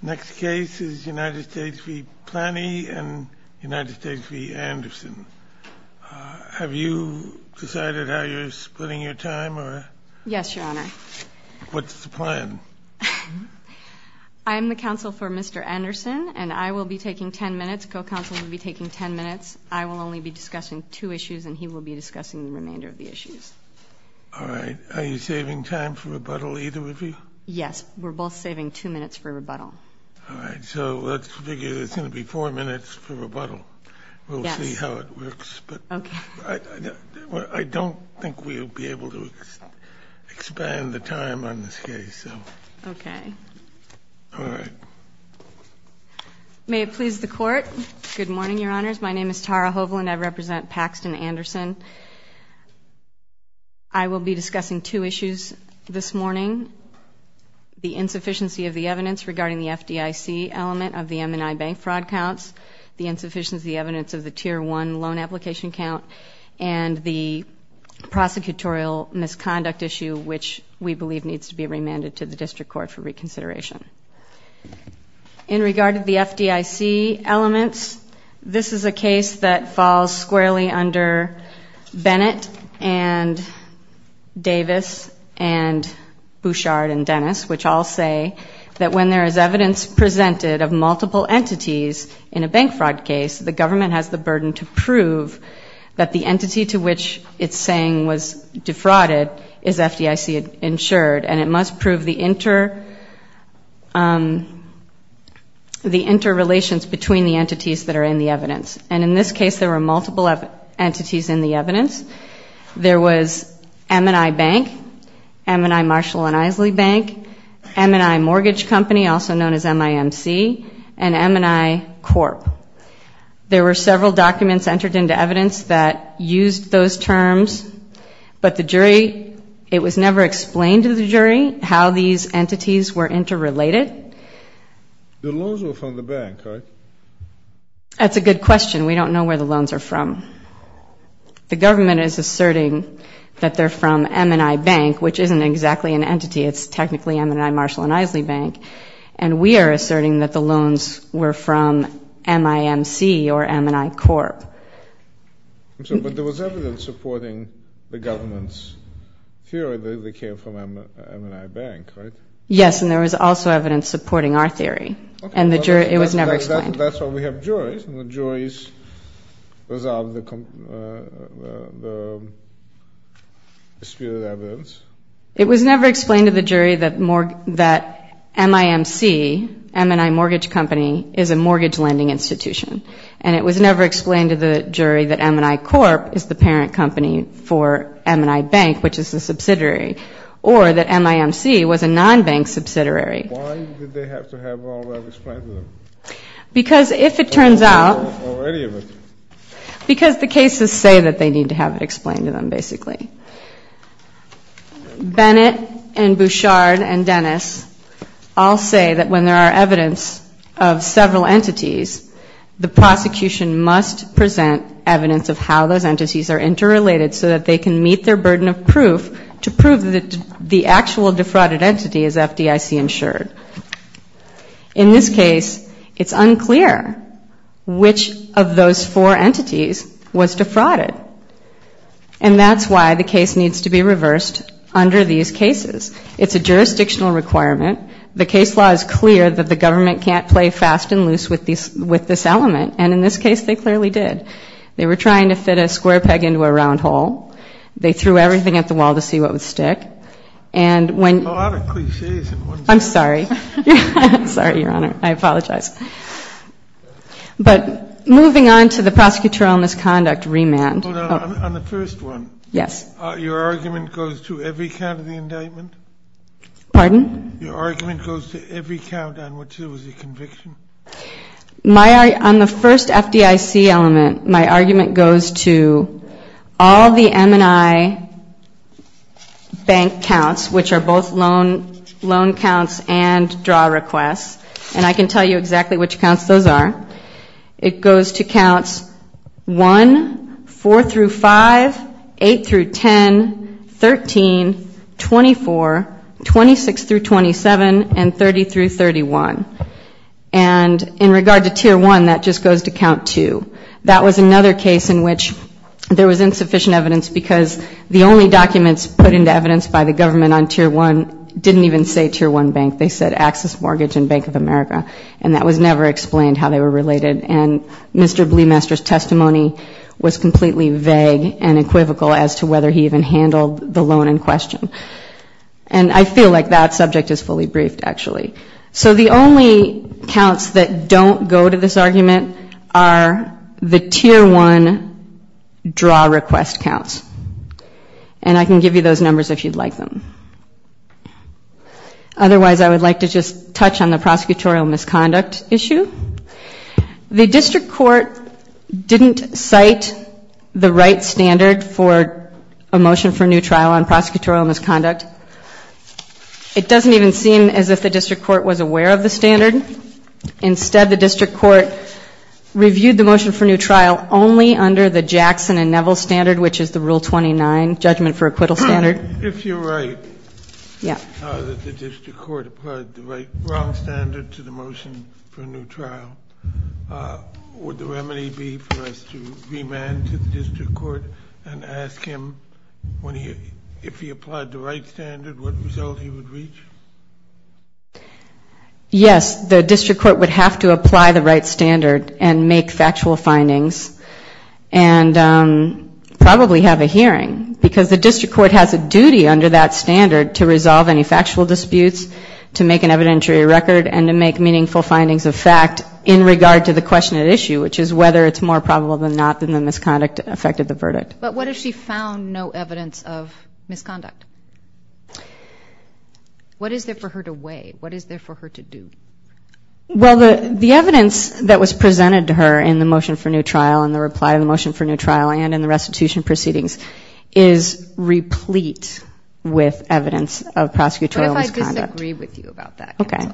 Next case is United States v. Plany and United States v. Anderson. Have you decided how you're splitting your time? Yes, your honor. What's the plan? I am the counsel for Mr. Anderson and I will be taking 10 minutes, co-counsel will be taking 10 minutes. I will only be discussing two issues and he will be discussing the remainder of the issues. All right, are you saving time for rebuttal? All right, so let's figure it's going to be four minutes for rebuttal. We'll see how it works, but I don't think we'll be able to expand the time on this case. Okay. All right. May it please the court. Good morning, your honors. My name is Tara Hovland. I represent Paxton Anderson. I will be discussing two issues this morning. The insufficiency of the evidence regarding the FDIC element of the M&I bank fraud counts, the insufficiency of the evidence of the Tier 1 loan application count, and the prosecutorial misconduct issue, which we believe needs to be remanded to the district court for reconsideration. In regard to the FDIC elements, this is a case that falls squarely under Bennett and Davis and Bouchard and Dennis, which all say that when there is evidence presented of multiple entities in a bank fraud case, the government has the burden to prove that the entity to which it's saying was defrauded is FDIC insured, and it must prove the interrelations between the entities that are in the evidence. And in this case, there were multiple entities in the evidence. There was M&I Bank, M&I Marshall and Isley Bank, M&I Mortgage Company, also known as MIMC, and M&I Corp. There were several documents entered into evidence that used those terms, but the jury, it was never explained to the jury how these entities were interrelated. The loans were from the bank, right? That's a good question. We don't know where the loans are from. The government is asserting that they're from M&I Bank, which isn't exactly an entity. It's technically M&I Marshall and Isley Bank, and we are asserting that the loans were from MIMC or M&I Corp. But there was evidence supporting the government's theory that they came from M&I Bank, right? Yes, and there was also evidence supporting our theory, and it was never explained. That's why we have two juries. It was out of the sphere of evidence. It was never explained to the jury that MIMC, M&I Mortgage Company, is a mortgage lending institution, and it was never explained to the jury that M&I Corp. is the parent company for M&I Bank, which is a subsidiary, or that MIMC was a non-bank subsidiary. Why did they have to have all that explained to them? Because if it turns out... Or any of it. Because the cases say that they need to have it explained to them, basically. Bennett and Bouchard and Dennis all say that when there are evidence of several entities, the prosecution must present evidence of how those entities are interrelated so that they can meet their burden of proof to prove that the actual defrauded entity is FDIC-insured. In this case, it's unclear which of those four entities was defrauded, and that's why the case needs to be reversed under these cases. It's a jurisdictional requirement. The case law is clear that the government can't play fast and loose with this element, and in this case they clearly did. They were trying to fit a square peg into a round hole. They threw everything at the wall to see what would stick. And when... A lot of cliches in one sentence. I'm sorry. Sorry, Your Honor. I apologize. But moving on to the prosecutorial misconduct remand. Hold on. On the first one. Yes. Your argument goes to every count of the indictment? Pardon? Your argument goes to every count on which there was a conviction? On the first FDIC element, my argument goes to all the M&I bank counts, which are both loan counts and draw requests. And I can tell you exactly which counts those are. It goes to counts 1, 4 through 5, 8 through 10, 13, 24, 26 through 27, and 30 through 31. And in regard to tier 1, that just goes to count 2. That was another case in which there was insufficient evidence because the only documents put into evidence by the government on tier 1 didn't even say tier 1 bank. They said Axis Mortgage and Bank of America. And that was never explained how they were related. And Mr. Bleemaster's testimony was completely vague and equivocal as to whether he even handled the loan in question. And I feel like that subject is fully briefed, actually. So the only counts that don't go to this argument are the tier 1 draw request counts. And I can give you those numbers if you'd like them. Otherwise, I would like to just touch on the prosecutorial misconduct issue. The district court didn't cite the right standard for a motion for new trial on prosecutorial misconduct. It doesn't even seem as if the district court was aware of the standard. Instead, the district court reviewed the motion for new trial only under the Jackson and Neville standard, which is the Rule 29 judgment for acquittal standard. If you're right, the district court applied the right wrong standard to the motion for a new trial. Would the remedy be for us to remand to the district court and ask him if he applied the right standard, what result he would reach? Yes, the district court would have to apply the right standard and make factual findings and probably have a hearing. Because the district court has a duty under that standard to resolve any factual disputes, to make an evidentiary record, and to make meaningful findings of fact in regard to the question at issue, which is whether it's more probable than not that the misconduct affected the verdict. But what if she found no evidence of misconduct? What is there for her to weigh? What is there for her to do? Well, the evidence that was presented to her in the motion for new trial and the reply of the motion for new trial and in the restitution proceedings is replete with evidence of prosecutorial misconduct. What if I disagree with you about that? Okay.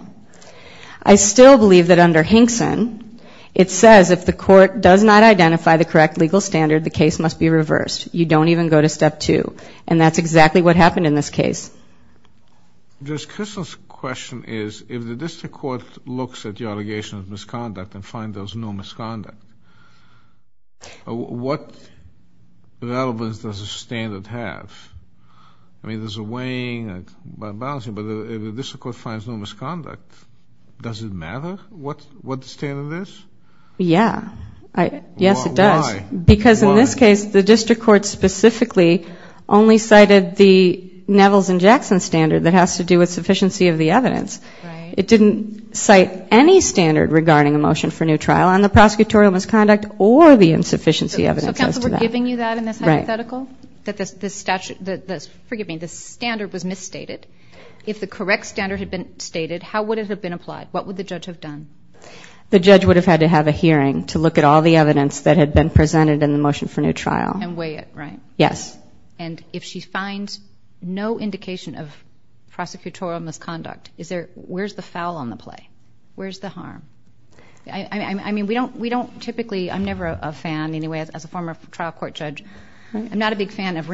I still believe that under Hinkson, it says if the court does not identify the correct legal standard, the case must be reversed. You don't even go to step two. And that's exactly what happened in this case. Judge Kristol's question is, if the district court looks at the allegation of misconduct and finds there's no misconduct, what relevance does the standard have? I mean, there's a weighing, a balancing, but if the district court finds no misconduct, does it matter what the standard is? Yeah. Yes, it does. Because in this case, the district court specifically only cited the Neville's and Jackson standard that has to do with sufficiency of the evidence. It didn't cite any standard regarding a motion for new trial on the prosecutorial misconduct or the insufficiency evidence. So counsel, we're giving you that in this hypothetical? That this statute, forgive me, this standard was misstated. If the correct standard had been stated, how would it have been applied? What would the judge have done? The judge would have had to have a hearing to look at all the evidence that had been presented in the motion for new trial. And weigh it, right? Yes. And if she finds no indication of prosecutorial misconduct, where's the foul on the play? Where's the harm? I mean, we don't typically, I'm never a fan, anyway, as a former trial court judge. I'm not a big fan of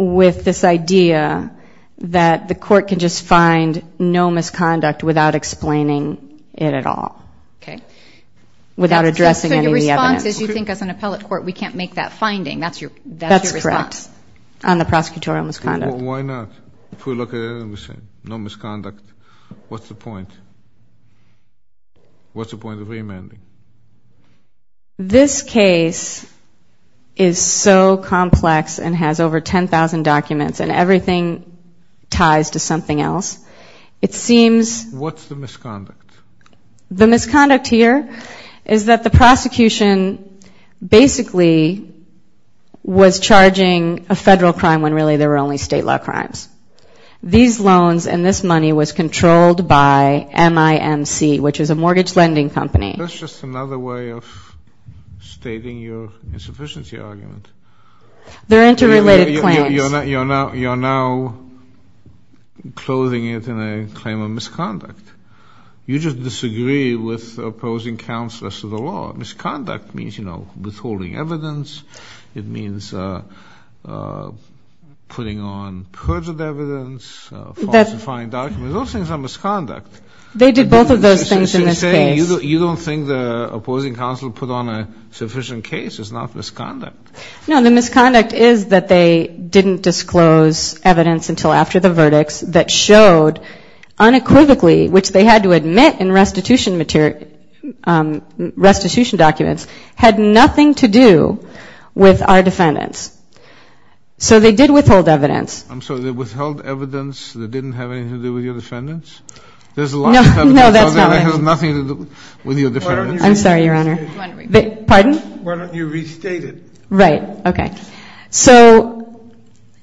with this idea that the court can just find no misconduct without explaining it at all. Okay. Without addressing any of the evidence. So your response is you think as an appellate court we can't make that finding? That's your response? That's correct. On the prosecutorial misconduct. Why not? If we look at the motion, no misconduct, what's the point? What's the point of reamending? This case is so complex and has over 10,000 documents and everything ties to something else. It seems... What's the misconduct? The misconduct here is that the prosecution basically was charging a federal crime when really there were only state law crimes. These loans and this money was controlled by MIMC, which is a mortgage lending company. That's just another way of stating your insufficiency argument. They're interrelated plans. You're now closing it in a claim of misconduct. You just disagree with opposing counselors to the law. Misconduct means, you know, withholding evidence. It means putting on perjured evidence, falsifying documents. Those things are misconduct. They did both of those things in this case. So you're saying you don't think the opposing counselor put on a sufficient case. It's not misconduct. No, the misconduct is that they didn't disclose evidence until after the verdicts that showed unequivocally, which they had to admit in restitution material, restitution documents, had nothing to do with our defendants. So they did withhold evidence. I'm sorry, they withheld evidence that didn't have anything to do with your defendants? There's a lot. No, that's not right. Nothing to do with your defendants. I'm sorry, Your Honor. Pardon? Why don't you restate it? Right, okay. So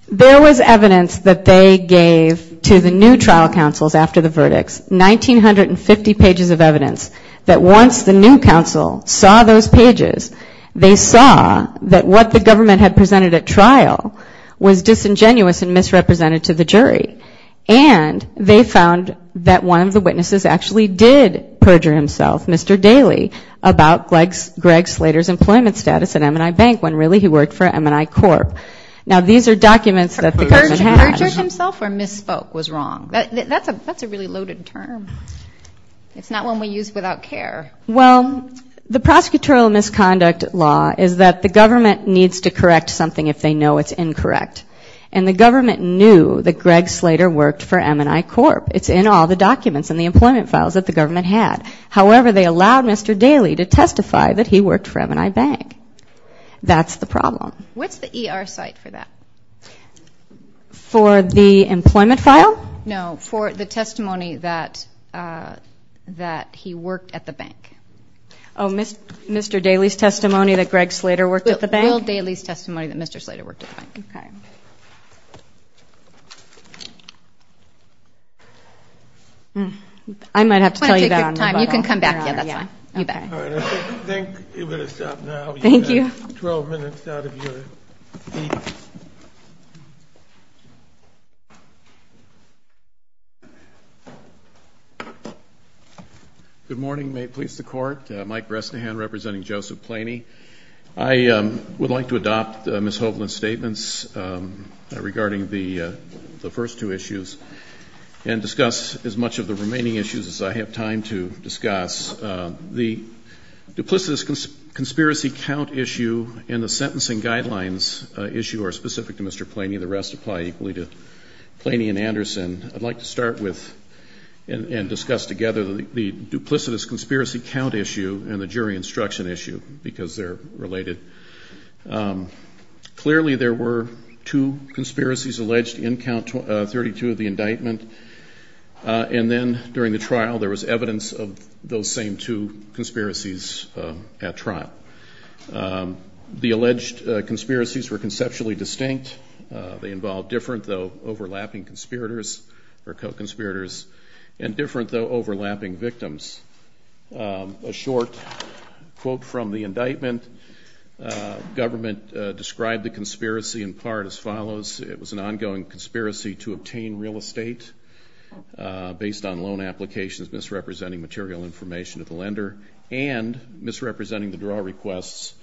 there was evidence that they gave to the new trial counsels after the verdicts, 1950 pages of evidence, that once the new counsel saw those pages, they saw that what the government had presented at trial was disingenuous and misrepresented to the jury. And they found that one of the witnesses actually did perjure himself, Mr. Daley, about Greg Slater's employment status at M&I Bank when really he worked for M&I Corp. Now these are documents that the government had. Perjured himself or misspoke was wrong. That's a really loaded term. It's not one we use without care. Well, the prosecutorial misconduct law is that the government needs to correct something if they know it's incorrect. And the government knew that Greg Slater worked for M&I Corp. It's in all the documents and the employment files that the government had. However, they allowed Mr. Daley to testify that he worked for M&I Bank. That's the problem. What's the ER site for that? For the employment file? No, for the testimony that he worked at the bank. Oh, Mr. Daley's testimony that Greg Slater worked at the bank? Will Daley's testimony that Mr. Slater worked at the bank. I might have to tell you that on rebuttal. I think we're going to stop now. You have 12 minutes out of your time. Good morning. May it please the Court. Mike Bresnahan representing Joseph Planey. I would like to adopt Ms. Hovland's statements regarding the first two issues and discuss as much of the remaining issues as I have time to discuss. The duplicitous conspiracy count issue and the sentencing guidelines issue are specific to Mr. Planey. The rest apply equally to Planey and Anderson. I'd like to start with and discuss together the duplicitous conspiracy count issue and the jury instruction issue because they're related. Clearly there were two conspiracies alleged in count 32 of the indictment and then during the trial there was evidence of those same two alleged conspiracies were conceptually distinct. They involved different though overlapping conspirators or co-conspirators and different though overlapping victims. A short quote from the indictment. Government described the conspiracy in part as follows. It was an ongoing conspiracy to obtain real estate based on loan applications misrepresenting material information to the lender and misrepresenting the draw requests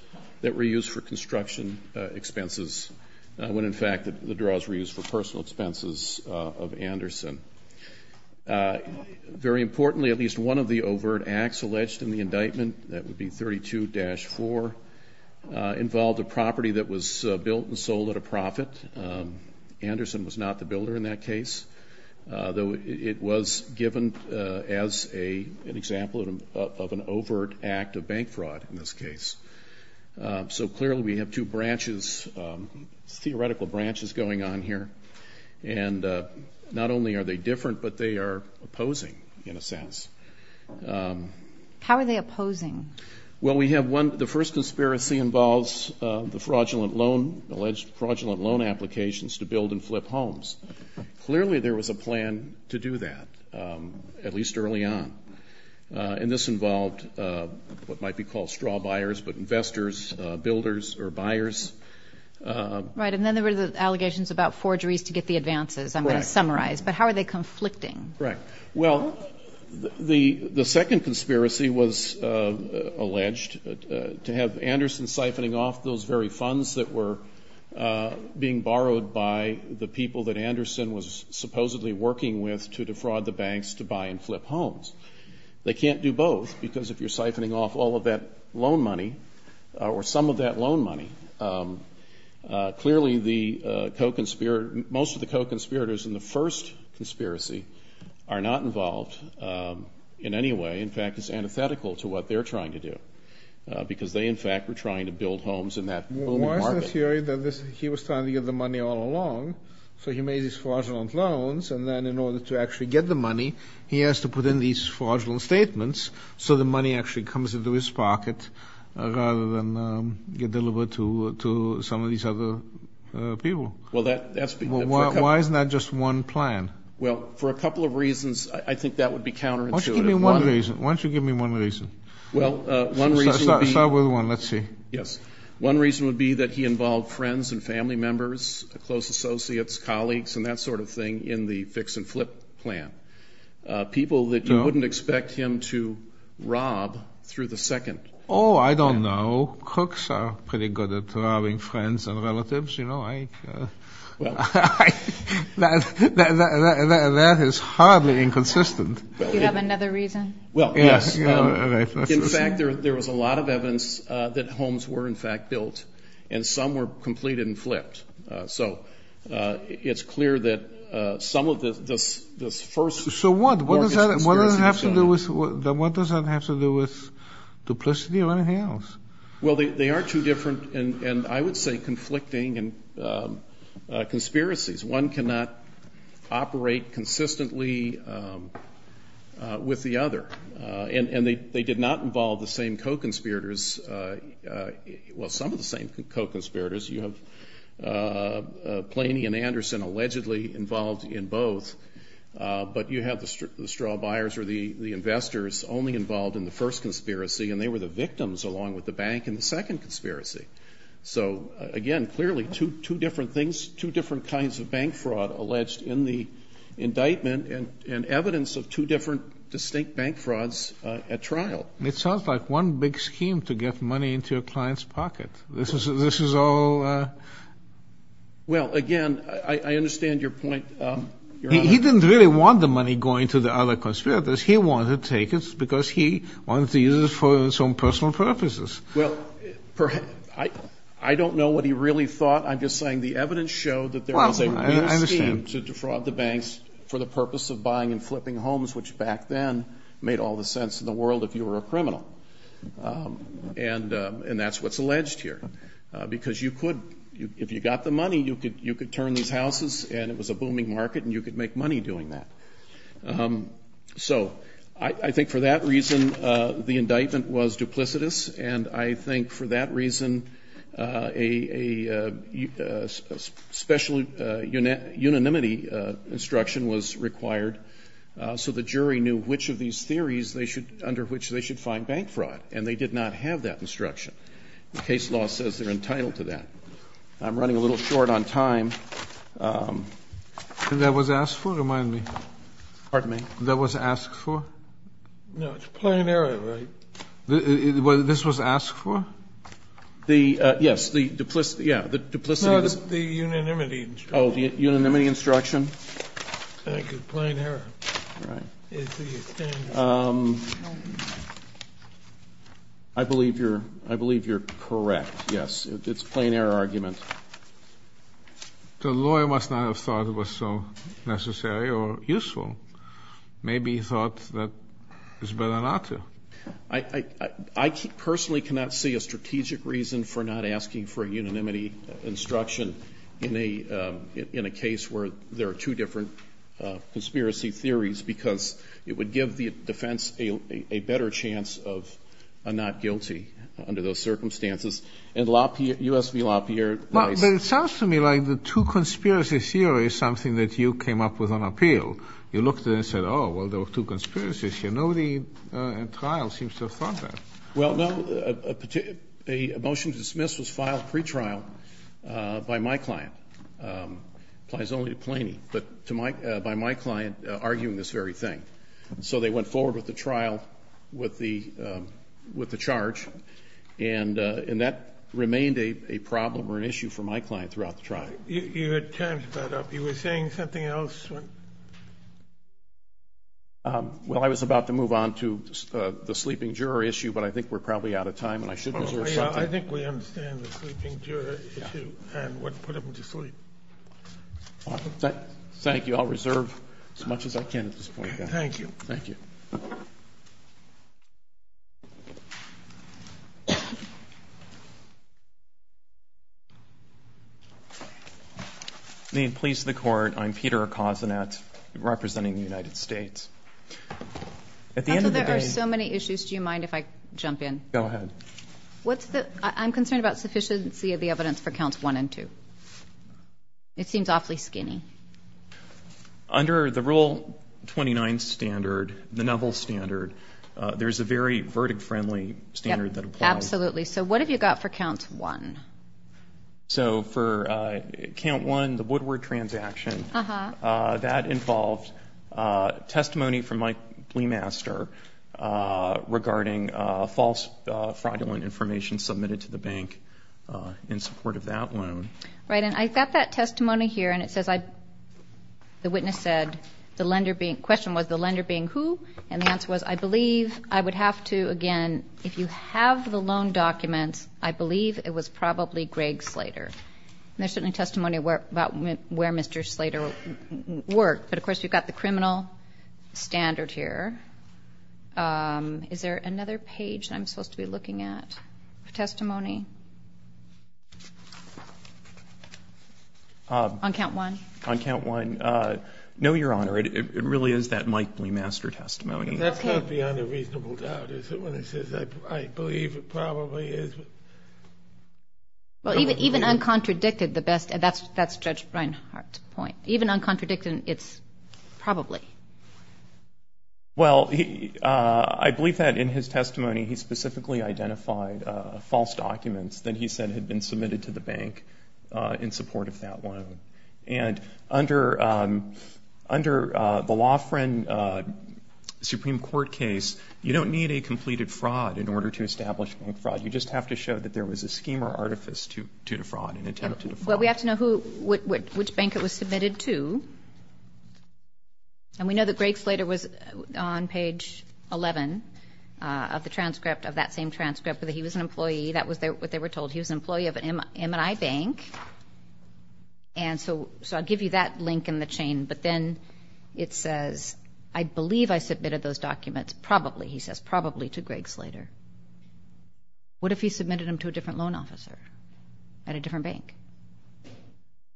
that were used for construction expenses when in fact the draws were used for personal expenses of Anderson. Very importantly at least one of the overt acts alleged in the indictment, that would be 32-4, involved a property that was built and sold at a profit. Anderson was not the builder in that case though it was given as an example of an overt act of bank fraud in this case. So clearly we have two branches, theoretical branches going on here and not only are they different but they are opposing in a sense. How are they opposing? Well we have one, the first conspiracy involves the fraudulent loan, alleged fraudulent loan applications to build and flip homes. Clearly there was a plan to do that at least early on. And this involved what might be called straw buyers but investors, builders or buyers. Right and then there were the allegations about forgeries to get the advances I'm going to summarize. But how are they conflicting? Correct. Well the second conspiracy was that they were being borrowed by the people that Anderson was supposedly working with to defraud the banks to buy and flip homes. They can't do both because if you're siphoning off all of that loan money or some of that loan money clearly most of the co-conspirators in the first conspiracy are not involved in any way. In fact it's antithetical to what they're trying to do. Because they in fact were trying to build homes in that booming market. Why is the theory that he was trying to get the money all along so he made these fraudulent loans and then in order to actually get the money he has to put in these fraudulent statements so the money actually comes into his pocket rather than get delivered to some of these other people? Well that's because... Why isn't that just one plan? Well for a couple of reasons I think that would be counterintuitive. Why don't you give me one reason? Start with one. Let's see. Yes. One reason would be that he involved friends and family members, close associates, colleagues and that sort of thing in the fix and flip plan. People that you wouldn't expect him to rob through the second. Oh I don't know. Crooks are pretty good at robbing friends and relatives. That is hardly inconsistent. Do you have another reason? Well yes. In fact there was a lot of evidence that homes were in fact built and some were completed and flipped. So it's clear that some of this first... So what? What does that have to do with duplicity or anything else? Well they are two different and I would say conflicting conspiracies. One cannot operate consistently with the other. And they did not involve the same co-conspirators, well some of the same co-conspirators. You have Planey and Anderson allegedly involved in both but you have the straw buyers or the investors only involved in the first conspiracy and they were the victims along with the bank in the second conspiracy. So again clearly two different things, two different kinds of bank fraud alleged in the indictment and evidence of two different distinct bank frauds at trial. It sounds like one big scheme to get money into a client's pocket. This is all... Well again I understand your point. He didn't really want the money going to the other conspirators. He wanted to take it because he wanted to use it for his own personal purposes. Well I don't know what he really thought. I'm just saying the evidence showed that there was a real scheme to defraud the banks for the purpose of buying and flipping homes which back then made all the sense in the world if you were a criminal. And that's what's alleged here because you could, if you got the money you could turn these houses and it was a booming market and you could make money doing that. So I think for that reason the indictment was duplicitous and I think for that reason a special unanimity instruction was required so the jury knew which of these theories under which they should find bank fraud and they did not have that instruction. The case law says they're entitled to that. I'm running a little short on time. And that was asked for? Remind me. Pardon me? That was asked for? No, it's plain error, right? This was asked for? Yes, the duplicity, yeah. No, the unanimity instruction. Oh, the unanimity instruction. Thank you. Plain error. I believe you're correct, yes. It's a plain error argument. The lawyer must not have thought it was so necessary or useful. Maybe he thought that it was better not to. I personally cannot see a strategic reason for not asking for a unanimity instruction in a case where there are two different conspiracy theories because it would give the defense a better chance of a not guilty under those circumstances. And U.S. v. LaPierre. But it sounds to me like the two conspiracy theories is something that you came up with on appeal. You looked at it and said, oh, well, there were two conspiracy theories. And I think a motion to dismiss was filed pre-trial by my client. Applies only to Plainy. But by my client arguing this very thing. So they went forward with the trial with the charge. And that remained a problem or an issue for my client throughout the trial. Your time's about up. You were saying something else? Well, I was about to move on to the sleeping juror issue, but I think we're probably out of time and I should reserve something. I think we understand the sleeping juror issue and what put him to sleep. Thank you. I'll reserve as much as I can at this point. Thank you. Please the court. I'm Peter representing the United States. At the end of the day, there are so many issues. Do you mind if I jump in? Go ahead. What's the I'm concerned about sufficiency of the evidence for counts one and two. It seems awfully skinny under the rule. Twenty nine standard, the novel standard. There's a very verdict friendly standard that absolutely. So what have you got for counts one? So for count one, the Woodward transaction that involved testimony from my master regarding false fraudulent information submitted to the bank in support of that loan. Right. And I got that lender being who? And the answer was, I believe I would have to again, if you have the loan documents, I believe it was probably Greg Slater. And there's certainly testimony about where Mr. Slater worked. But of course, you've got the criminal standard here. Is there another page I'm supposed to be looking at for testimony? On count one, on count one. No, Your Honor, it really is that Mike Bluemaster testimony. That's not beyond a reasonable doubt, is it? When it says I believe it probably is. Well, even even uncontradicted, the best. That's that's Judge Reinhart point. Even uncontradicted, it's probably. Well, I believe that in his testimony, he specifically identified false documents that he said had been submitted to the bank in support of that loan. And under under the law friend Supreme Court case, you don't need a completed fraud in order to establish bank fraud. You just have to show that there was a scheme or artifice to defraud and attempt to defraud. Well, we have to know who which bank it was page 11 of the transcript of that same transcript that he was an employee. That was what they were told. He was an employee of an MNI bank. And so I'll give you that link in the chain. But then it says, I believe I submitted those documents. Probably, he says, probably to Greg Slater. What if he submitted them to a different loan officer at a different bank?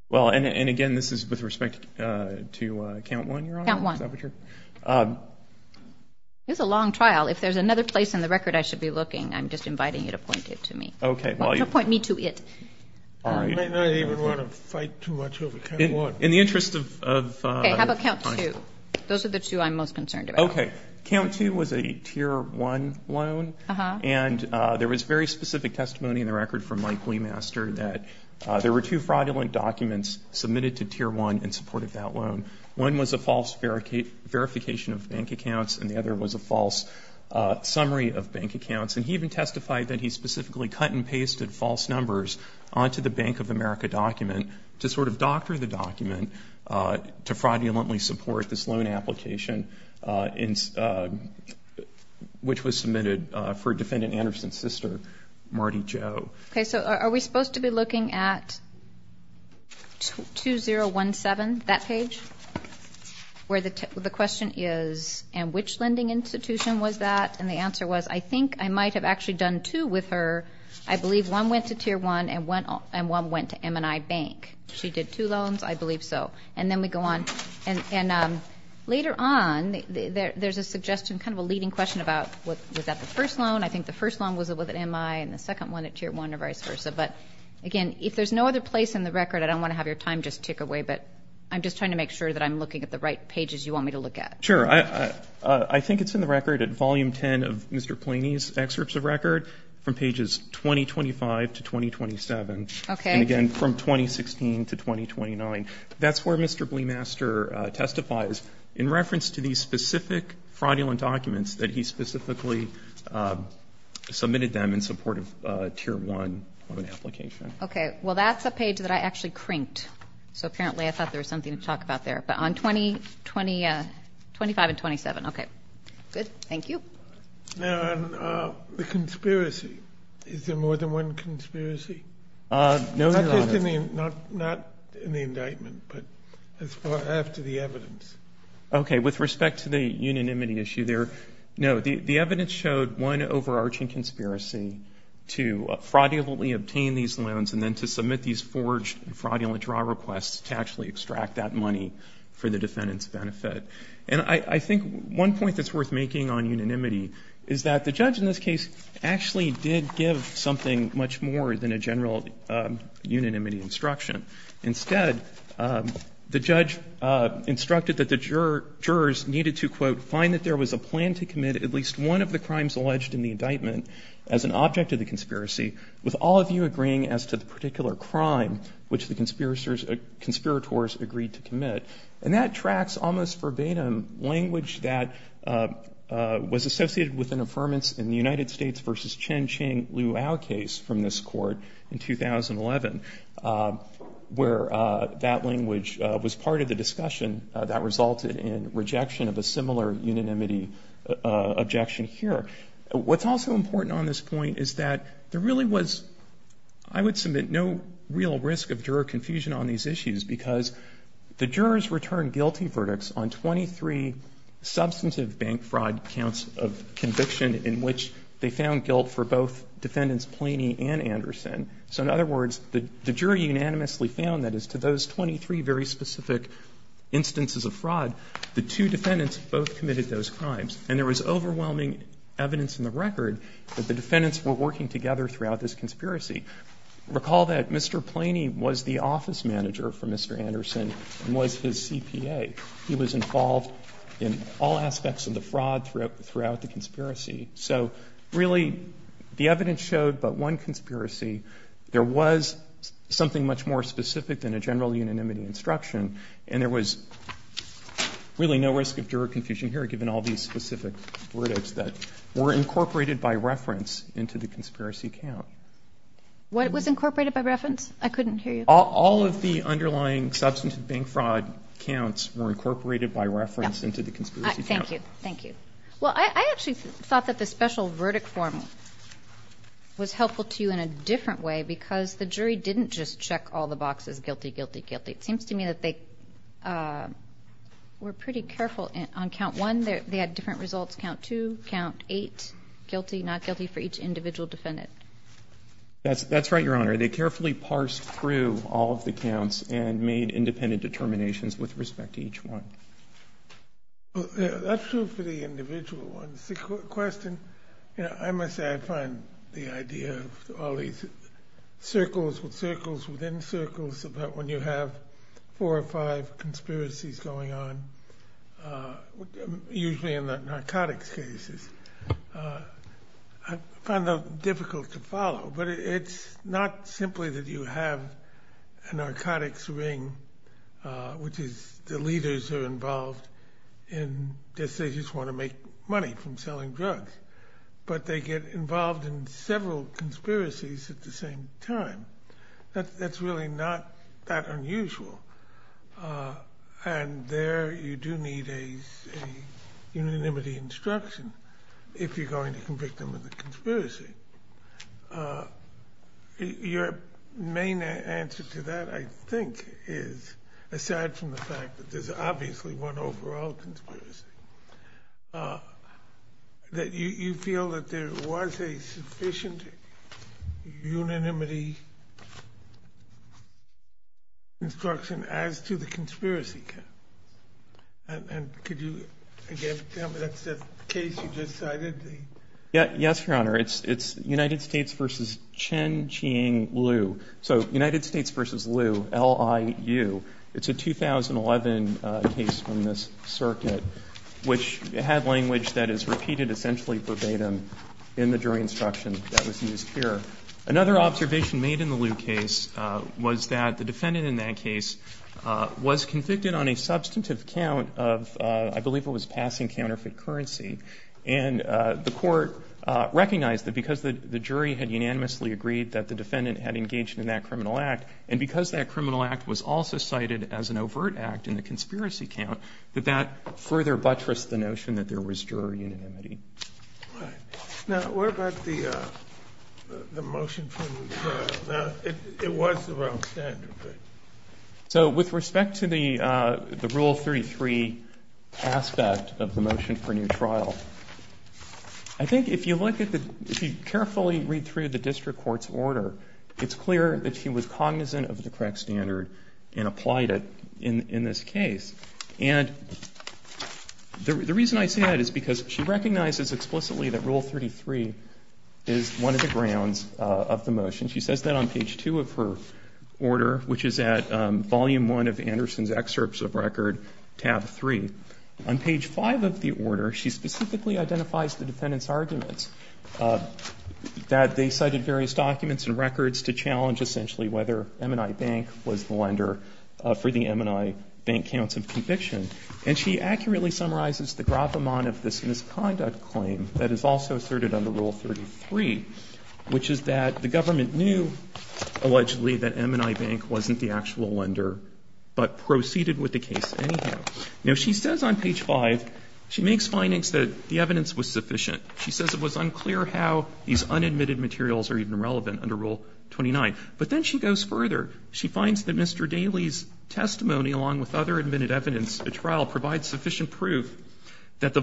Well, and again, this is with respect to Count One. It's a long trial. If there's another place in the record I should be looking, I'm just inviting you to point it to me. Point me to it. In the interest of those are the two I'm most concerned about. Okay. Count Two was a tier one loan, and there was very specific testimony in the record from Mike Leemaster that there were two fraudulent documents submitted to tier one in support of that loan. One was a false verification of bank accounts, and the other was a false summary of bank accounts. And he even testified that he specifically cut and pasted false numbers onto the Bank of America document to sort of doctor the document to fraudulently support this loan application which was submitted for Defendant Anderson's sister, Marty Jo. Okay. So are we supposed to be looking at 2017, that page, where the question is, and which lending institution was that? And the answer was, I think I might have actually done two with her. I believe one went to tier one and one went to M&I Bank. She did two loans, I believe so. And then we go on. And later on, there's a suggestion, kind of a leading question about, was that the first loan? I think the first loan was with M&I and the second one at tier one or vice versa. But again, if there's no other place in the record, I don't want to have your time just tick away, but I'm just trying to make sure that I'm looking at the right pages you want me to look at. Sure. I think it's in the record at Volume 10 of Mr. Planey's excerpts of record from pages 2025 to 2027. Okay. And again, from 2016 to 2029. That's where Mr. Bleemaster testifies in reference to these specific fraudulent documents that he specifically submitted them in support of tier one of an application. Okay. Well, that's a page that I actually crinked. So apparently I thought there was something to talk about there. But on 2025 and 2027. Okay. Good. Thank you. Now on the conspiracy, is there more than one conspiracy? Not just in the indictment, but as far after the evidence. Okay. With respect to the unanimity issue there, no. The evidence showed one overarching conspiracy to fraudulently obtain these loans and then to submit these forged fraudulent draw requests to actually extract that money for the defendant's benefit. And I think one point that's worth making on unanimity is that the judge in this case actually did give something much more than a general unanimity instruction. Instead, the judge instructed that the jurors needed to quote, find that there was a plan to commit at least one of the crimes which the conspirators agreed to commit. And that tracks almost verbatim language that was associated with an affirmance in the United States versus Chen Qing Liu Ao case from this court in 2011, where that language was part of the discussion that resulted in rejection of a similar unanimity objection here. What's also important on this point is that there really was, I would submit, no real risk of juror confusion on these issues because the jurors returned guilty verdicts on 23 substantive bank fraud counts of conviction in which they found guilt for both defendants Planey and Anderson. So in other words, the jury unanimously found that as to those 23 very specific instances of fraud, the two defendants both committed those crimes. And there was overwhelming evidence in the record that the defendants were working together throughout this conspiracy. Recall that Mr. Planey was the office manager for Mr. Anderson and was his CPA. He was involved in all aspects of the fraud throughout the conspiracy. So really, the evidence showed but one conspiracy. There was something much more specific than a general unanimity instruction. And there was really no risk of juror confusion here given all these specific verdicts that were incorporated by reference into the conspiracy count. What was incorporated by reference? I couldn't hear you. All of the underlying substantive bank fraud counts were incorporated by reference into the conspiracy count. Thank you. Thank you. Well, I actually thought that the special defendants didn't just check all the boxes, guilty, guilty, guilty. It seems to me that they were pretty careful on count one. They had different results, count two, count eight, guilty, not guilty for each individual defendant. That's right, Your Honor. They carefully parsed through all of the counts and made independent determinations with respect to each one. That's true for the individual ones. The question, I must say I find the idea of all these circles with circles within circles about when you have four or five conspiracies going on, usually in the narcotics cases, I find that difficult to follow. But it's not simply that you have a narcotics ring, which is the leaders are involved in decisions, want to make money from selling drugs, but they get involved in several conspiracies at the same time. That's really not that unusual. And there you do need a unanimity instruction if you're going to convict them of the conspiracy. Your main answer to that, I think, is aside from the fact that there's obviously one overall conspiracy, that you feel that there was a sufficient unanimity instruction as to the conspiracy. And could you again tell me that's the case you just cited? Yes, Your Honor. It's United States v. Chen Qing Liu. So United States v. Liu, L-I-U. It's a 2011 case from this circuit, which had language that is repeated essentially verbatim in the jury instruction that was used here. Another observation made in the Liu case was that the defendant in that case was convicted on a the court recognized that because the jury had unanimously agreed that the defendant had engaged in that criminal act, and because that criminal act was also cited as an overt act in the conspiracy count, that that further buttressed the notion that there was juror unanimity. Now, what about the motion for new trial? It was the wrong standard. So with respect to the motion for new trial, I think if you carefully read through the district court's order, it's clear that she was cognizant of the correct standard and applied it in this case. And the reason I say that is because she recognizes explicitly that Rule 33 is one of the grounds of the motion. She says that on page 2 of her order, which is at volume 1 of Anderson's excerpts of record, tab 3, on page 5 of the order, she specifically identifies the defendant's arguments, that they cited various documents and records to challenge essentially whether M&I Bank was the lender for the M&I Bank counts of conviction. And she accurately summarizes the of this misconduct claim that is also asserted under Rule 33, which is that the government knew allegedly that M&I Bank wasn't the actual lender, but proceeded with the case anyhow. Now, she says on page 5, she makes findings that the evidence was sufficient. She says it was unclear how these unadmitted materials are even relevant under Rule 29. But then she goes further. She finds that Mr. Daley's testimony, along with other admitted evidence at trial, provides sufficient proof that the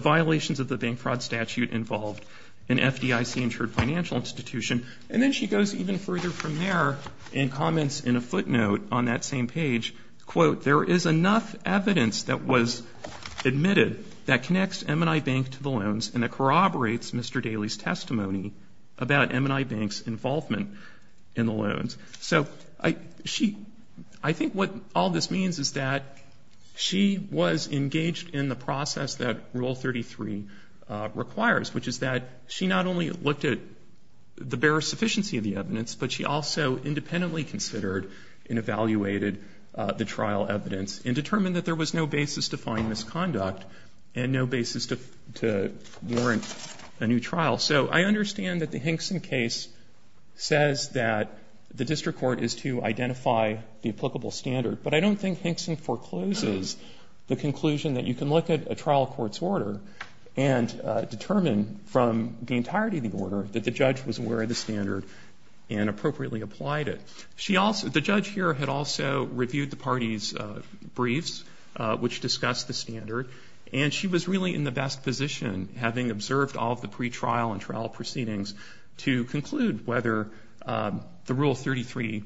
And then she goes even further from there and comments in a footnote on that same page, quote, there is enough evidence that was admitted that connects M&I Bank to the loans and that corroborates Mr. Daley's testimony about M&I Bank's involvement in the loans. So I think what all this means is that she was engaged in the process that Rule 33 requires, which is that she not only looked at the bare sufficiency of the evidence, but she also independently considered and evaluated the trial evidence and determined that there was no basis to find misconduct and no basis to warrant a new trial. So I understand that the Hinkson case says that the district court is to identify the applicable standard. But I don't think Hinkson forecloses the conclusion that you can look at a trial court's order and determine from the entirety of the order that the judge was aware of the standard and appropriately applied it. The judge here had also reviewed the party's briefs, which discussed the standard. And she was really in the best position, having observed all of the pretrial and trial proceedings, to conclude whether the Rule 33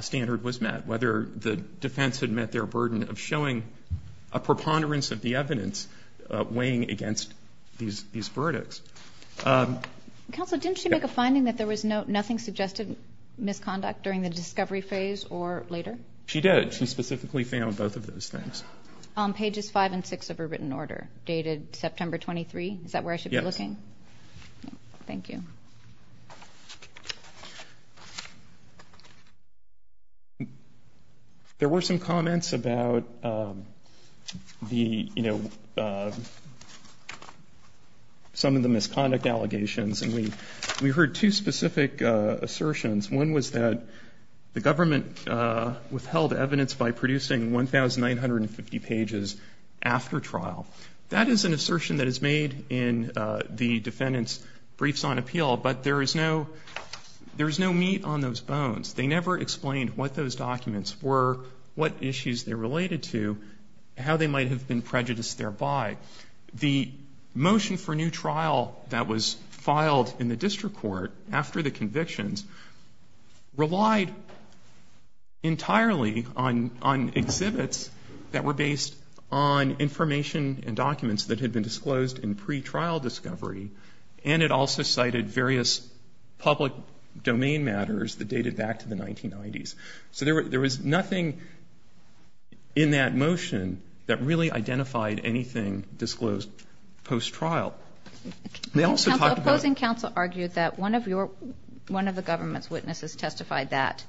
standard was met, whether the defense had met their burden of showing a preponderance of the evidence weighing against these verdicts. Counsel, didn't she make a finding that there was nothing suggested misconduct during the discovery phase or later? She did. She specifically found both of those things. On pages 5 and 6 of her written order, dated September 23? Is that where I should be looking? Yes. Thank you. There were some comments about the, you know, some of the misconduct allegations. And we heard two specific assertions. One was that the government withheld evidence by producing 1950 pages after trial. That is an assertion that is made in the defendant's briefs on appeal, but there is no meat on those bones. They never explained what those documents were, what issues they related to, how they might have been prejudiced thereby. The motion for new trial that was filed in the district court after the convictions relied entirely on disclosed and pre-trial discovery, and it also cited various public domain matters that dated back to the 1990s. So there was nothing in that motion that really identified anything disclosed post-trial. They also talked about... Counsel, the opposing counsel argued that one of your one of the government's witnesses testified that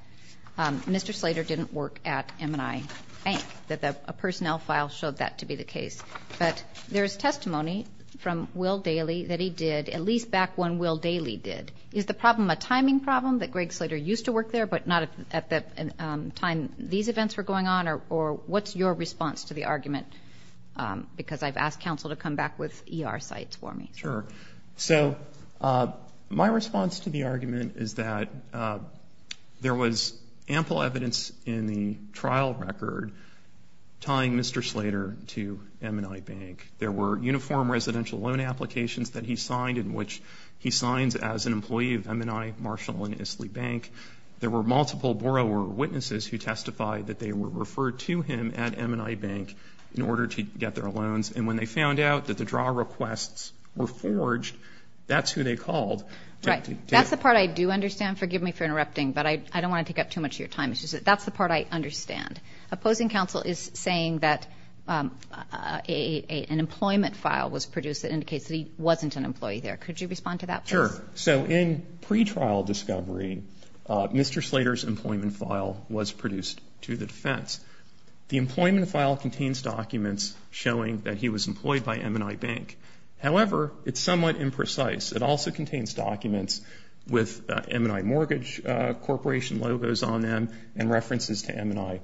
Mr. Slater didn't work at M&I Bank, that a personnel file showed that to be the case. But there is testimony from Will Daly that he did, at least back when Will Daly did. Is the problem a timing problem that Greg Slater used to work there, but not at the time these events were going on? Or what's your response to the argument? Because I've asked counsel to come back with ER sites for me. Sure. So my response to the argument is that there was ample evidence in the trial record tying Mr. Slater to M&I Bank. There were uniform residential loan applications that he signed, in which he signs as an employee of M&I Marshall and Isley Bank. There were multiple borrower witnesses who testified that they were referred to him at M&I Bank in order to get their loans. And when they found out that the draw requests were forged, that's who they called. Right. That's the part I do understand. Forgive me for interrupting, but I don't want to take up too much of your time. That's the part I understand. Opposing counsel is saying that an employment file was produced that indicates that he wasn't an employee there. Could you respond to that, please? Sure. So in pretrial discovery, Mr. Slater's employment file was produced to the defense. The employment file contains documents showing that he was employed by M&I Bank. However, it's somewhat imprecise. It also contains documents with M&I Mortgage Corporation logos on them and references to M&I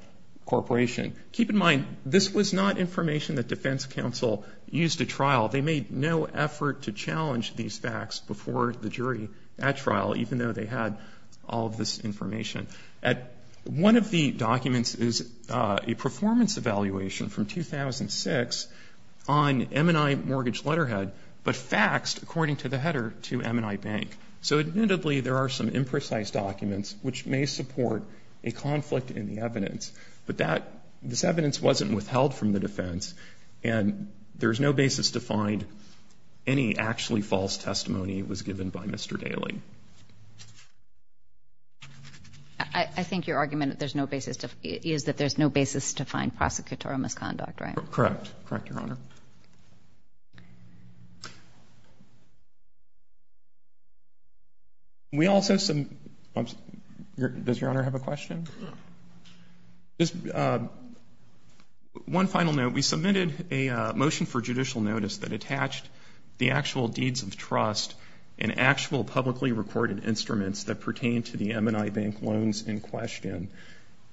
Corporation. Keep in mind, this was not information that defense counsel used to trial. They made no effort to challenge these facts before the jury at trial, even though they had all of this information. One of the documents is a performance evaluation from 2006 on M&I Mortgage Letterhead, but faxed, according to the header, to M&I Bank. So admittedly, there are some imprecise documents which may support a conflict in the evidence. But this evidence wasn't withheld from the defense, and there's no basis to find any actually false testimony was given by Mr. Daley. I think your argument is that there's no basis to find prosecutorial misconduct, right? Correct. Correct, Your Honor. We also some, does Your Honor have a question? Just one final note. We submitted a motion for judicial notice that attached the actual deeds of trust and actual publicly recorded instruments that pertain to the M&I Bank loans in question.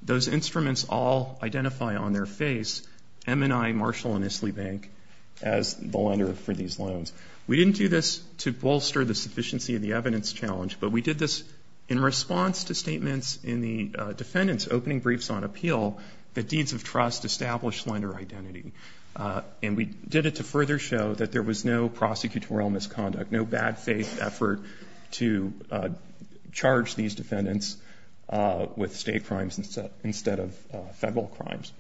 Those instruments all identify on their face M&I Marshall & Isley Bank as the lender for these loans. We didn't do this to bolster the sufficiency of the evidence challenge, but we did this in response to statements in the defendants' opening briefs on appeal that deeds of trust establish lender identity. And we did it to further show that there was no prosecutorial misconduct, no bad faith effort to charge these defendants with state crimes instead of federal crimes.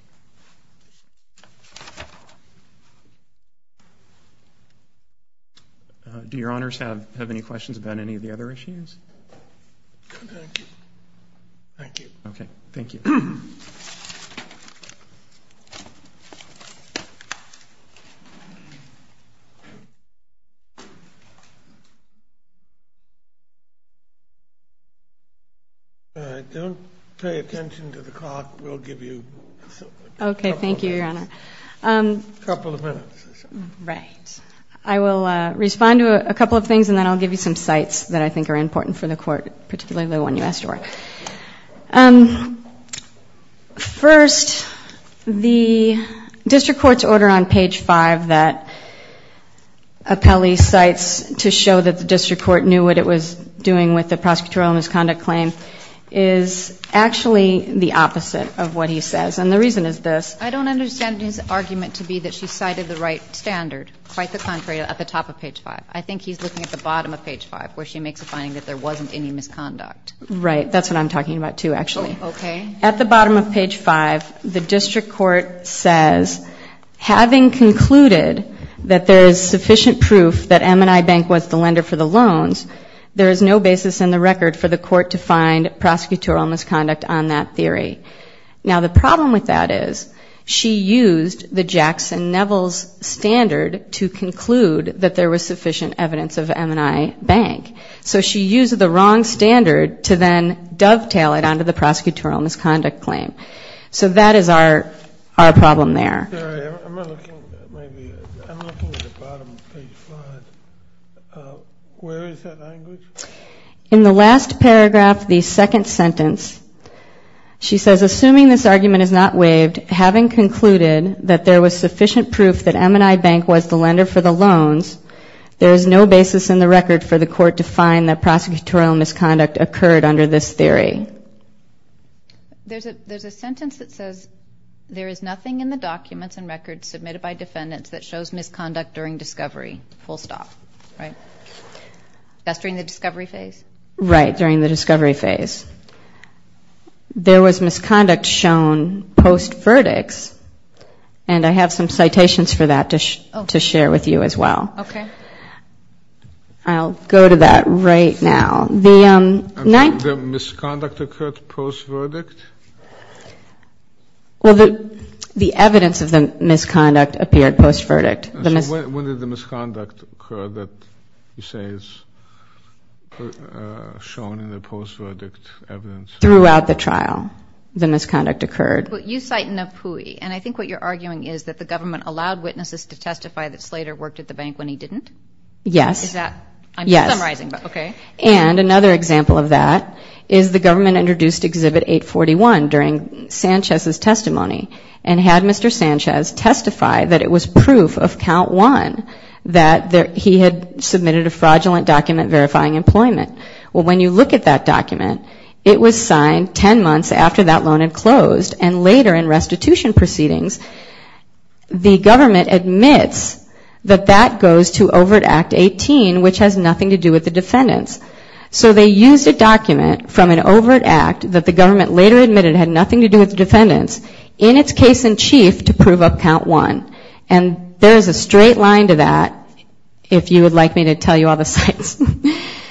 Do Your Honors have any questions about any of the other issues? Thank you. Okay. Thank you. Don't pay attention to the clock. We'll give you a couple of minutes. A couple of minutes. Right. I will respond to a couple of things and then I'll give you some sites that I think are important for the Court, particularly the one you asked for. First, the District Court's order on page 5 that appellee cites to show that the District Court knew what it was doing with the prosecutorial misconduct claim is actually the opposite of what he says. And the reason is this. I don't understand his argument to be that she cited the right standard. Quite the contrary, at the top of page 5. I think he's looking at the bottom of page 5 where she makes a finding that there wasn't any misconduct. Right. That's what I'm talking about, too, actually. Okay. At the bottom of page 5, the District Court says, having concluded that there is sufficient evidence for the Court to find prosecutorial misconduct on that theory. Now, the problem with that is she used the Jackson Neville's standard to conclude that there was sufficient evidence of M&I Bank. So she used the wrong standard to then dovetail it onto the prosecutorial misconduct claim. So that is our problem there. I'm looking at the bottom of page 5. Where is that language? In the last paragraph, the second sentence, she says, assuming this argument is not waived, having concluded that there was sufficient proof that M&I Bank was the lender for the loans, there is no basis in the record for the Court to find that prosecutorial misconduct occurred under this theory. There's a sentence that says, there is nothing in the documents and records submitted by defendants that shows misconduct during discovery. Full stop. Right. That's during the discovery phase? Right, during the discovery phase. There was misconduct shown post-verdicts, and I have some citations for that to share with you as well. Okay. I'll go to that right now. The misconduct occurred post-verdict? The evidence of the misconduct appeared post-verdict. When did the misconduct occur that you say is shown in the post-verdict evidence? Throughout the trial, the misconduct occurred. You cite Napui, and I think what you're arguing is that the government allowed witnesses to testify that Slater worked at the bank when he didn't? Yes. And another example of that is the government introduced Exhibit 841 during Sanchez's testimony and had Mr. Sanchez testify that it was proof of Count 1 that he had submitted a fraudulent document verifying employment. Well, when you look at that document, it was signed 10 months after that loan had closed, and later in restitution proceedings, the government admits that that goes to Overt Act 18, which has nothing to do with the defendants. So they used a document from an overt act that the government later admitted had nothing to do with the defendants in its case in chief to prove up Count 1. And there's a straight line to that, if you would like me to tell you all the sites.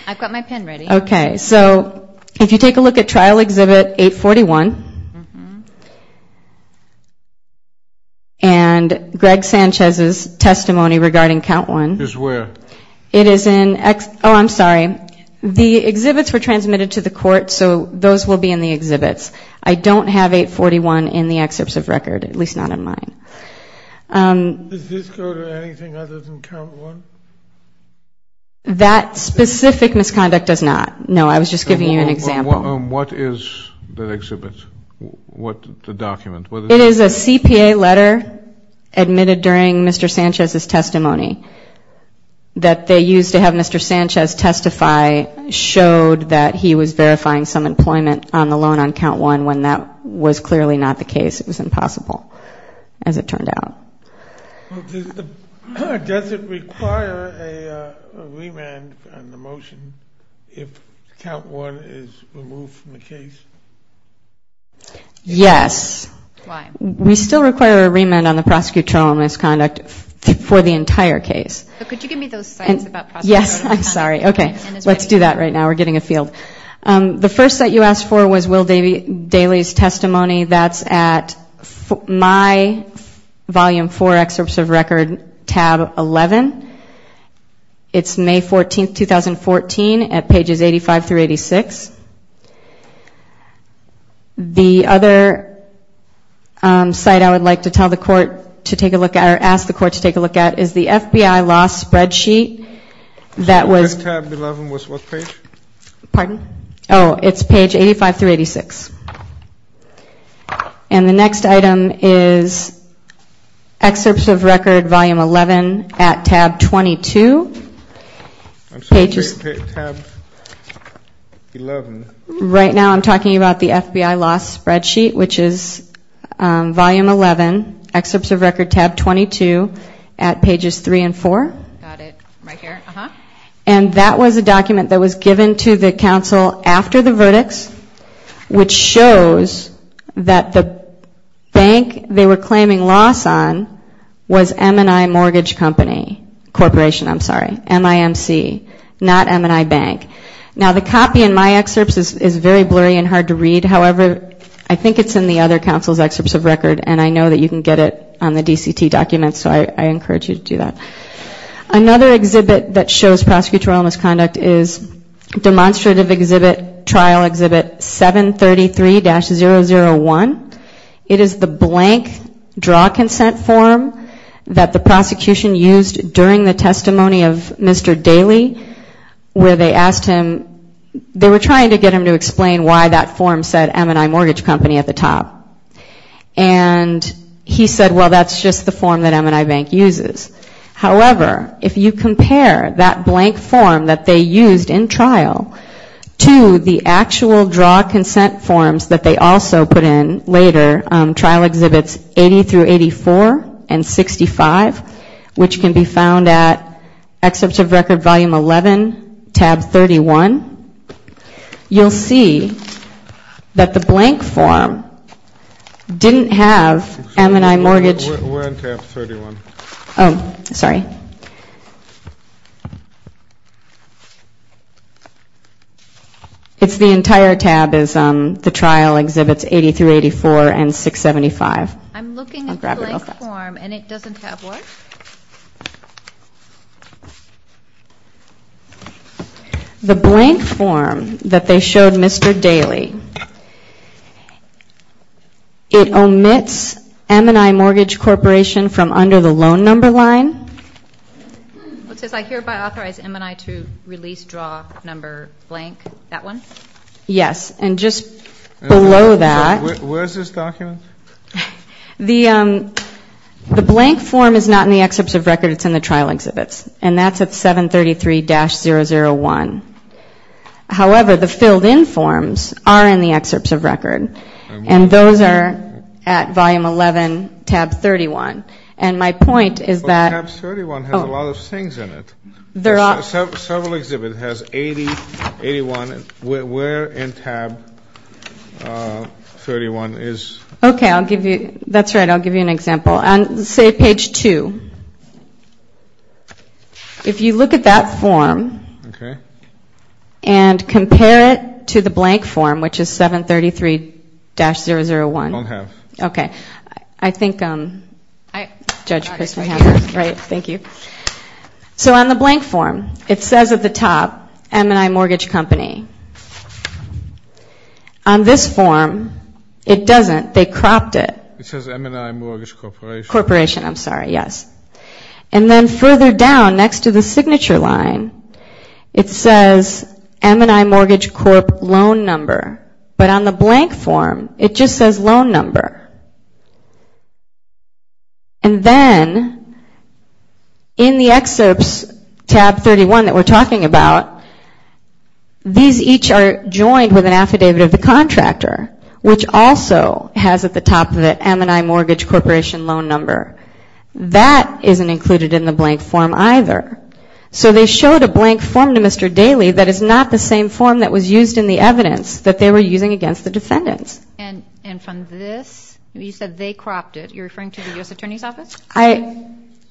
I've got my pen ready. Okay. So if you take a look at Trial Exhibit 841, and Greg Sanchez's testimony regarding Count 1. It is where? Oh, I'm sorry. The exhibits were transmitted to the court, so those will be in the exhibits. I don't have 841 in the excerpts of record, at least not in mine. Does this go to anything other than Count 1? That specific misconduct does not. No, I was just giving you an example. What is the exhibit? What is the document? It is a CPA letter admitted during Mr. Sanchez's testimony that they used to have Mr. Sanchez testify, showed that he was verifying some employment on the loan on Count 1 when that was clearly not the case. It was impossible, as it turned out. Does it require a remand on the motion if Count 1 is removed from the case? Yes. Why? We still require a remand on the prosecutorial misconduct for the entire case. But could you give me those sites about prosecutorial misconduct? Yes, I'm sorry. Okay. Let's do that right now. We're getting a field. The first site you asked for was Will Daly's testimony. That's at My Volume 4 Excerpts of Record, Tab 11. It's May 14, 2014, at pages 85 through 86. The other site I would like to tell the court to take a look at, or ask the court to take a look at, is the FBI Loss Spreadsheet that was. What page? Oh, it's page 85 through 86. And the next item is Excerpts of Record, Volume 11, at Tab 22. Right now I'm talking about the FBI Loss Spreadsheet, which is Volume 11, Excerpts of Record, Tab 22, at pages 3 and 4. And that was a document that was given to the counsel after the verdicts, which shows that the bank they were claiming loss on was M&I Mortgage Company Corporation. I'm sorry, MIMC, not M&I Bank. Now, the copy in my excerpts is very blurry and hard to read. However, I think it's in the other counsel's excerpts of record, and I know that you can get it on the DCT documents, so I encourage you to do that. Another exhibit that shows prosecutorial misconduct is Demonstrative Exhibit, Trial Exhibit 733-001. It is the blank draw consent form that the prosecution used during the testimony of Mr. Daley, where they asked him, they were trying to get him to explain why that form said M&I Mortgage Company at the top. And he said, well, that's just the form that M&I Bank uses. However, if you compare that blank form that they used in trial to the actual draw consent forms that they also put in later, Trial Exhibits 80-84 and 65, which can be found at Excerpts of Record, Volume 11, Tab 22. You'll see that the blank form didn't have M&I Mortgage. Oh, sorry. It's the entire tab is the Trial Exhibits 80-84 and 675. I'm looking at the blank form, and it doesn't have what? The blank form that they showed Mr. Daley, it omits M&I Mortgage Corporation from under the loan number line. It says, I hereby authorize M&I to release draw number blank. That one? Yes, and just below that. Where is this document? The blank form is not in the Excerpts of Record. It's in the Trial Exhibits, and that's at 733-001. However, the filled-in forms are in the Excerpts of Record, and those are at Volume 11, Tab 31. And my point is that... But Tab 31 has a lot of things in it. Okay, that's right. I'll give you an example. On, say, Page 2, if you look at that form and compare it to the blank form, which is 733-001. So on the blank form, it says at the top, M&I Mortgage Company. On this form, it doesn't. They cropped it. It says M&I Mortgage Corporation. And then further down, next to the signature line, it says M&I Mortgage Corp. Loan Number. But on the blank form, it just says Loan Number. And then in the Excerpts, Tab 31 that we're talking about, these are the same things. These each are joined with an affidavit of the contractor, which also has at the top of it M&I Mortgage Corporation Loan Number. That isn't included in the blank form either. So they showed a blank form to Mr. Daley that is not the same form that was used in the evidence that they were using against the defendants. And from this, you said they cropped it. You're referring to the U.S. Attorney's Office?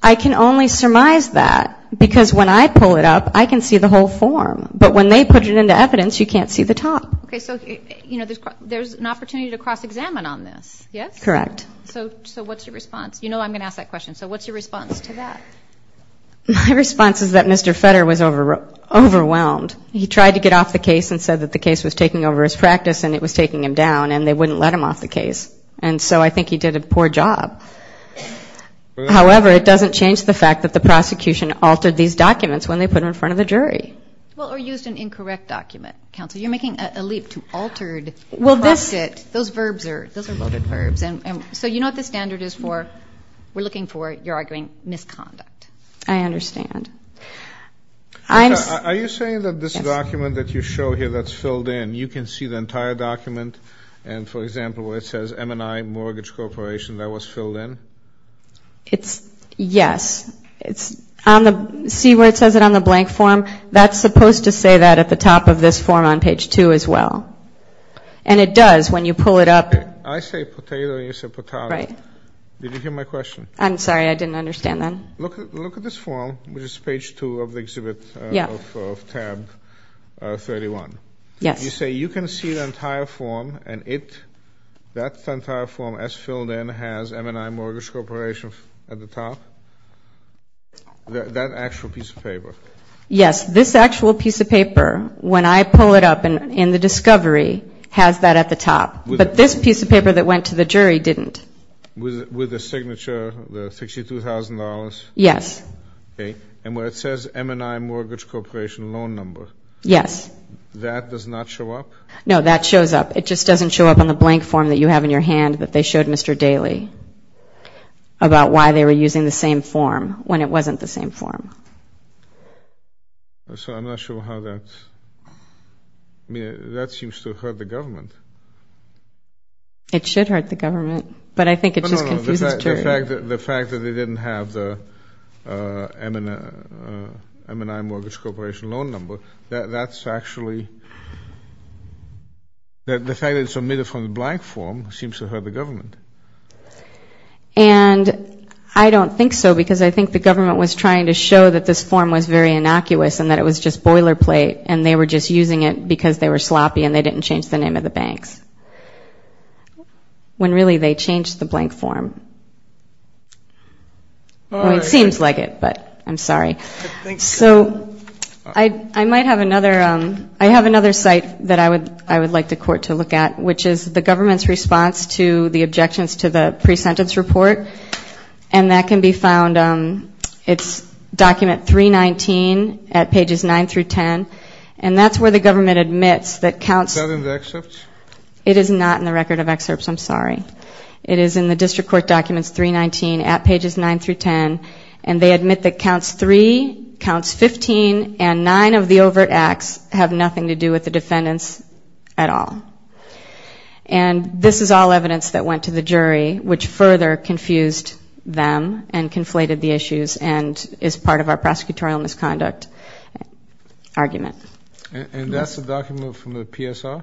I can only surmise that, because when I pull it up, I can see the whole form. But when they put it into evidence, you can't see the top. Okay. So, you know, there's an opportunity to cross-examine on this, yes? Correct. So what's your response? You know I'm going to ask that question. So what's your response to that? My response is that Mr. Fetter was overwhelmed. He tried to get off the case and said that the case was taking over his practice and it was taking him down, and they wouldn't let him off the case. And so I think he did a poor job. However, it doesn't change the fact that the prosecution altered these documents when they put them in front of the jury. Well, or used an incorrect document. Counsel, you're making a leap to altered, cropped it. Those verbs are loaded verbs. And so you know what the standard is for, we're looking for, you're arguing, misconduct. I understand. Are you saying that this document that you show here that's filled in, you can see the entire document? And for example, where it says M&I Mortgage Corporation, that was filled in? Yes. See where it says it on the blank form? That's supposed to say that at the top of this form on page two as well. And it does when you pull it up. I say potato and you say potata. Did you hear my question? I'm sorry, I didn't understand that. Look at this form, which is page two of the exhibit of tab 31. You say you can see the entire form and it, that entire form as filled in has M&I Mortgage Corporation at the top? That actual piece of paper? Yes, this actual piece of paper, when I pull it up in the discovery, has that at the top. But this piece of paper that went to the jury didn't. With the signature, the $62,000? Yes. And where it says M&I Mortgage Corporation loan number? Yes. That does not show up? No, that shows up. It just doesn't show up on the blank form that you have in your hand that they showed Mr. Daley about why they were using the same form when it wasn't the same form. I'm not sure how that, I mean, that seems to hurt the government. It should hurt the government, but I think it just confuses the jury. The fact that they didn't have the M&I Mortgage Corporation loan number, that's actually, the fact that it's omitted from the blank form seems to hurt the government. And I don't think so, because I think the government was trying to show that this form was very innocuous and that it was just boilerplate and they were just using it because they were sloppy and they didn't change the name of the banks. When really they changed the blank form. It seems like it, but I'm sorry. So I might have another, I have another site that I would like the court to look at, which is the government's response to the objections to the pre-sentence report. And that can be found, it's document 319 at pages 9 through 10. And that's where the government admits that counts... Is that in the excerpts? It is not in the record of excerpts, I'm sorry. It is in the district court documents 319 at pages 9 through 10, and they admit that counts 3, counts 15, and 9 of the overt acts have nothing to do with the defendants at all. And this is all evidence that went to the jury, which further confused them and conflated the issues and is part of our prosecutorial misconduct argument. And that's the document from the PSR?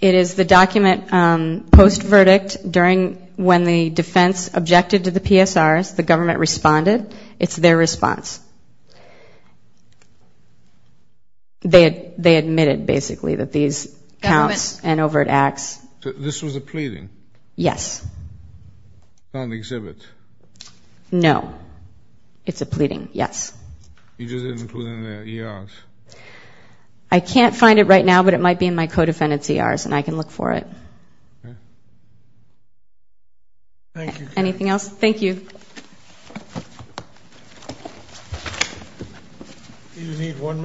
It is the document post-verdict during when the defense objected to the PSRs, the government responded. It's their response. They admitted basically that these counts and overt acts... This was a pleading? Yes. Not an exhibit? No, it's a pleading, yes. You just didn't include it in the ERs? I can't find it right now, but it might be in my co-defendant's ERs, and I can look for it. Thank you. Anything else? Thank you. Do you need one minute?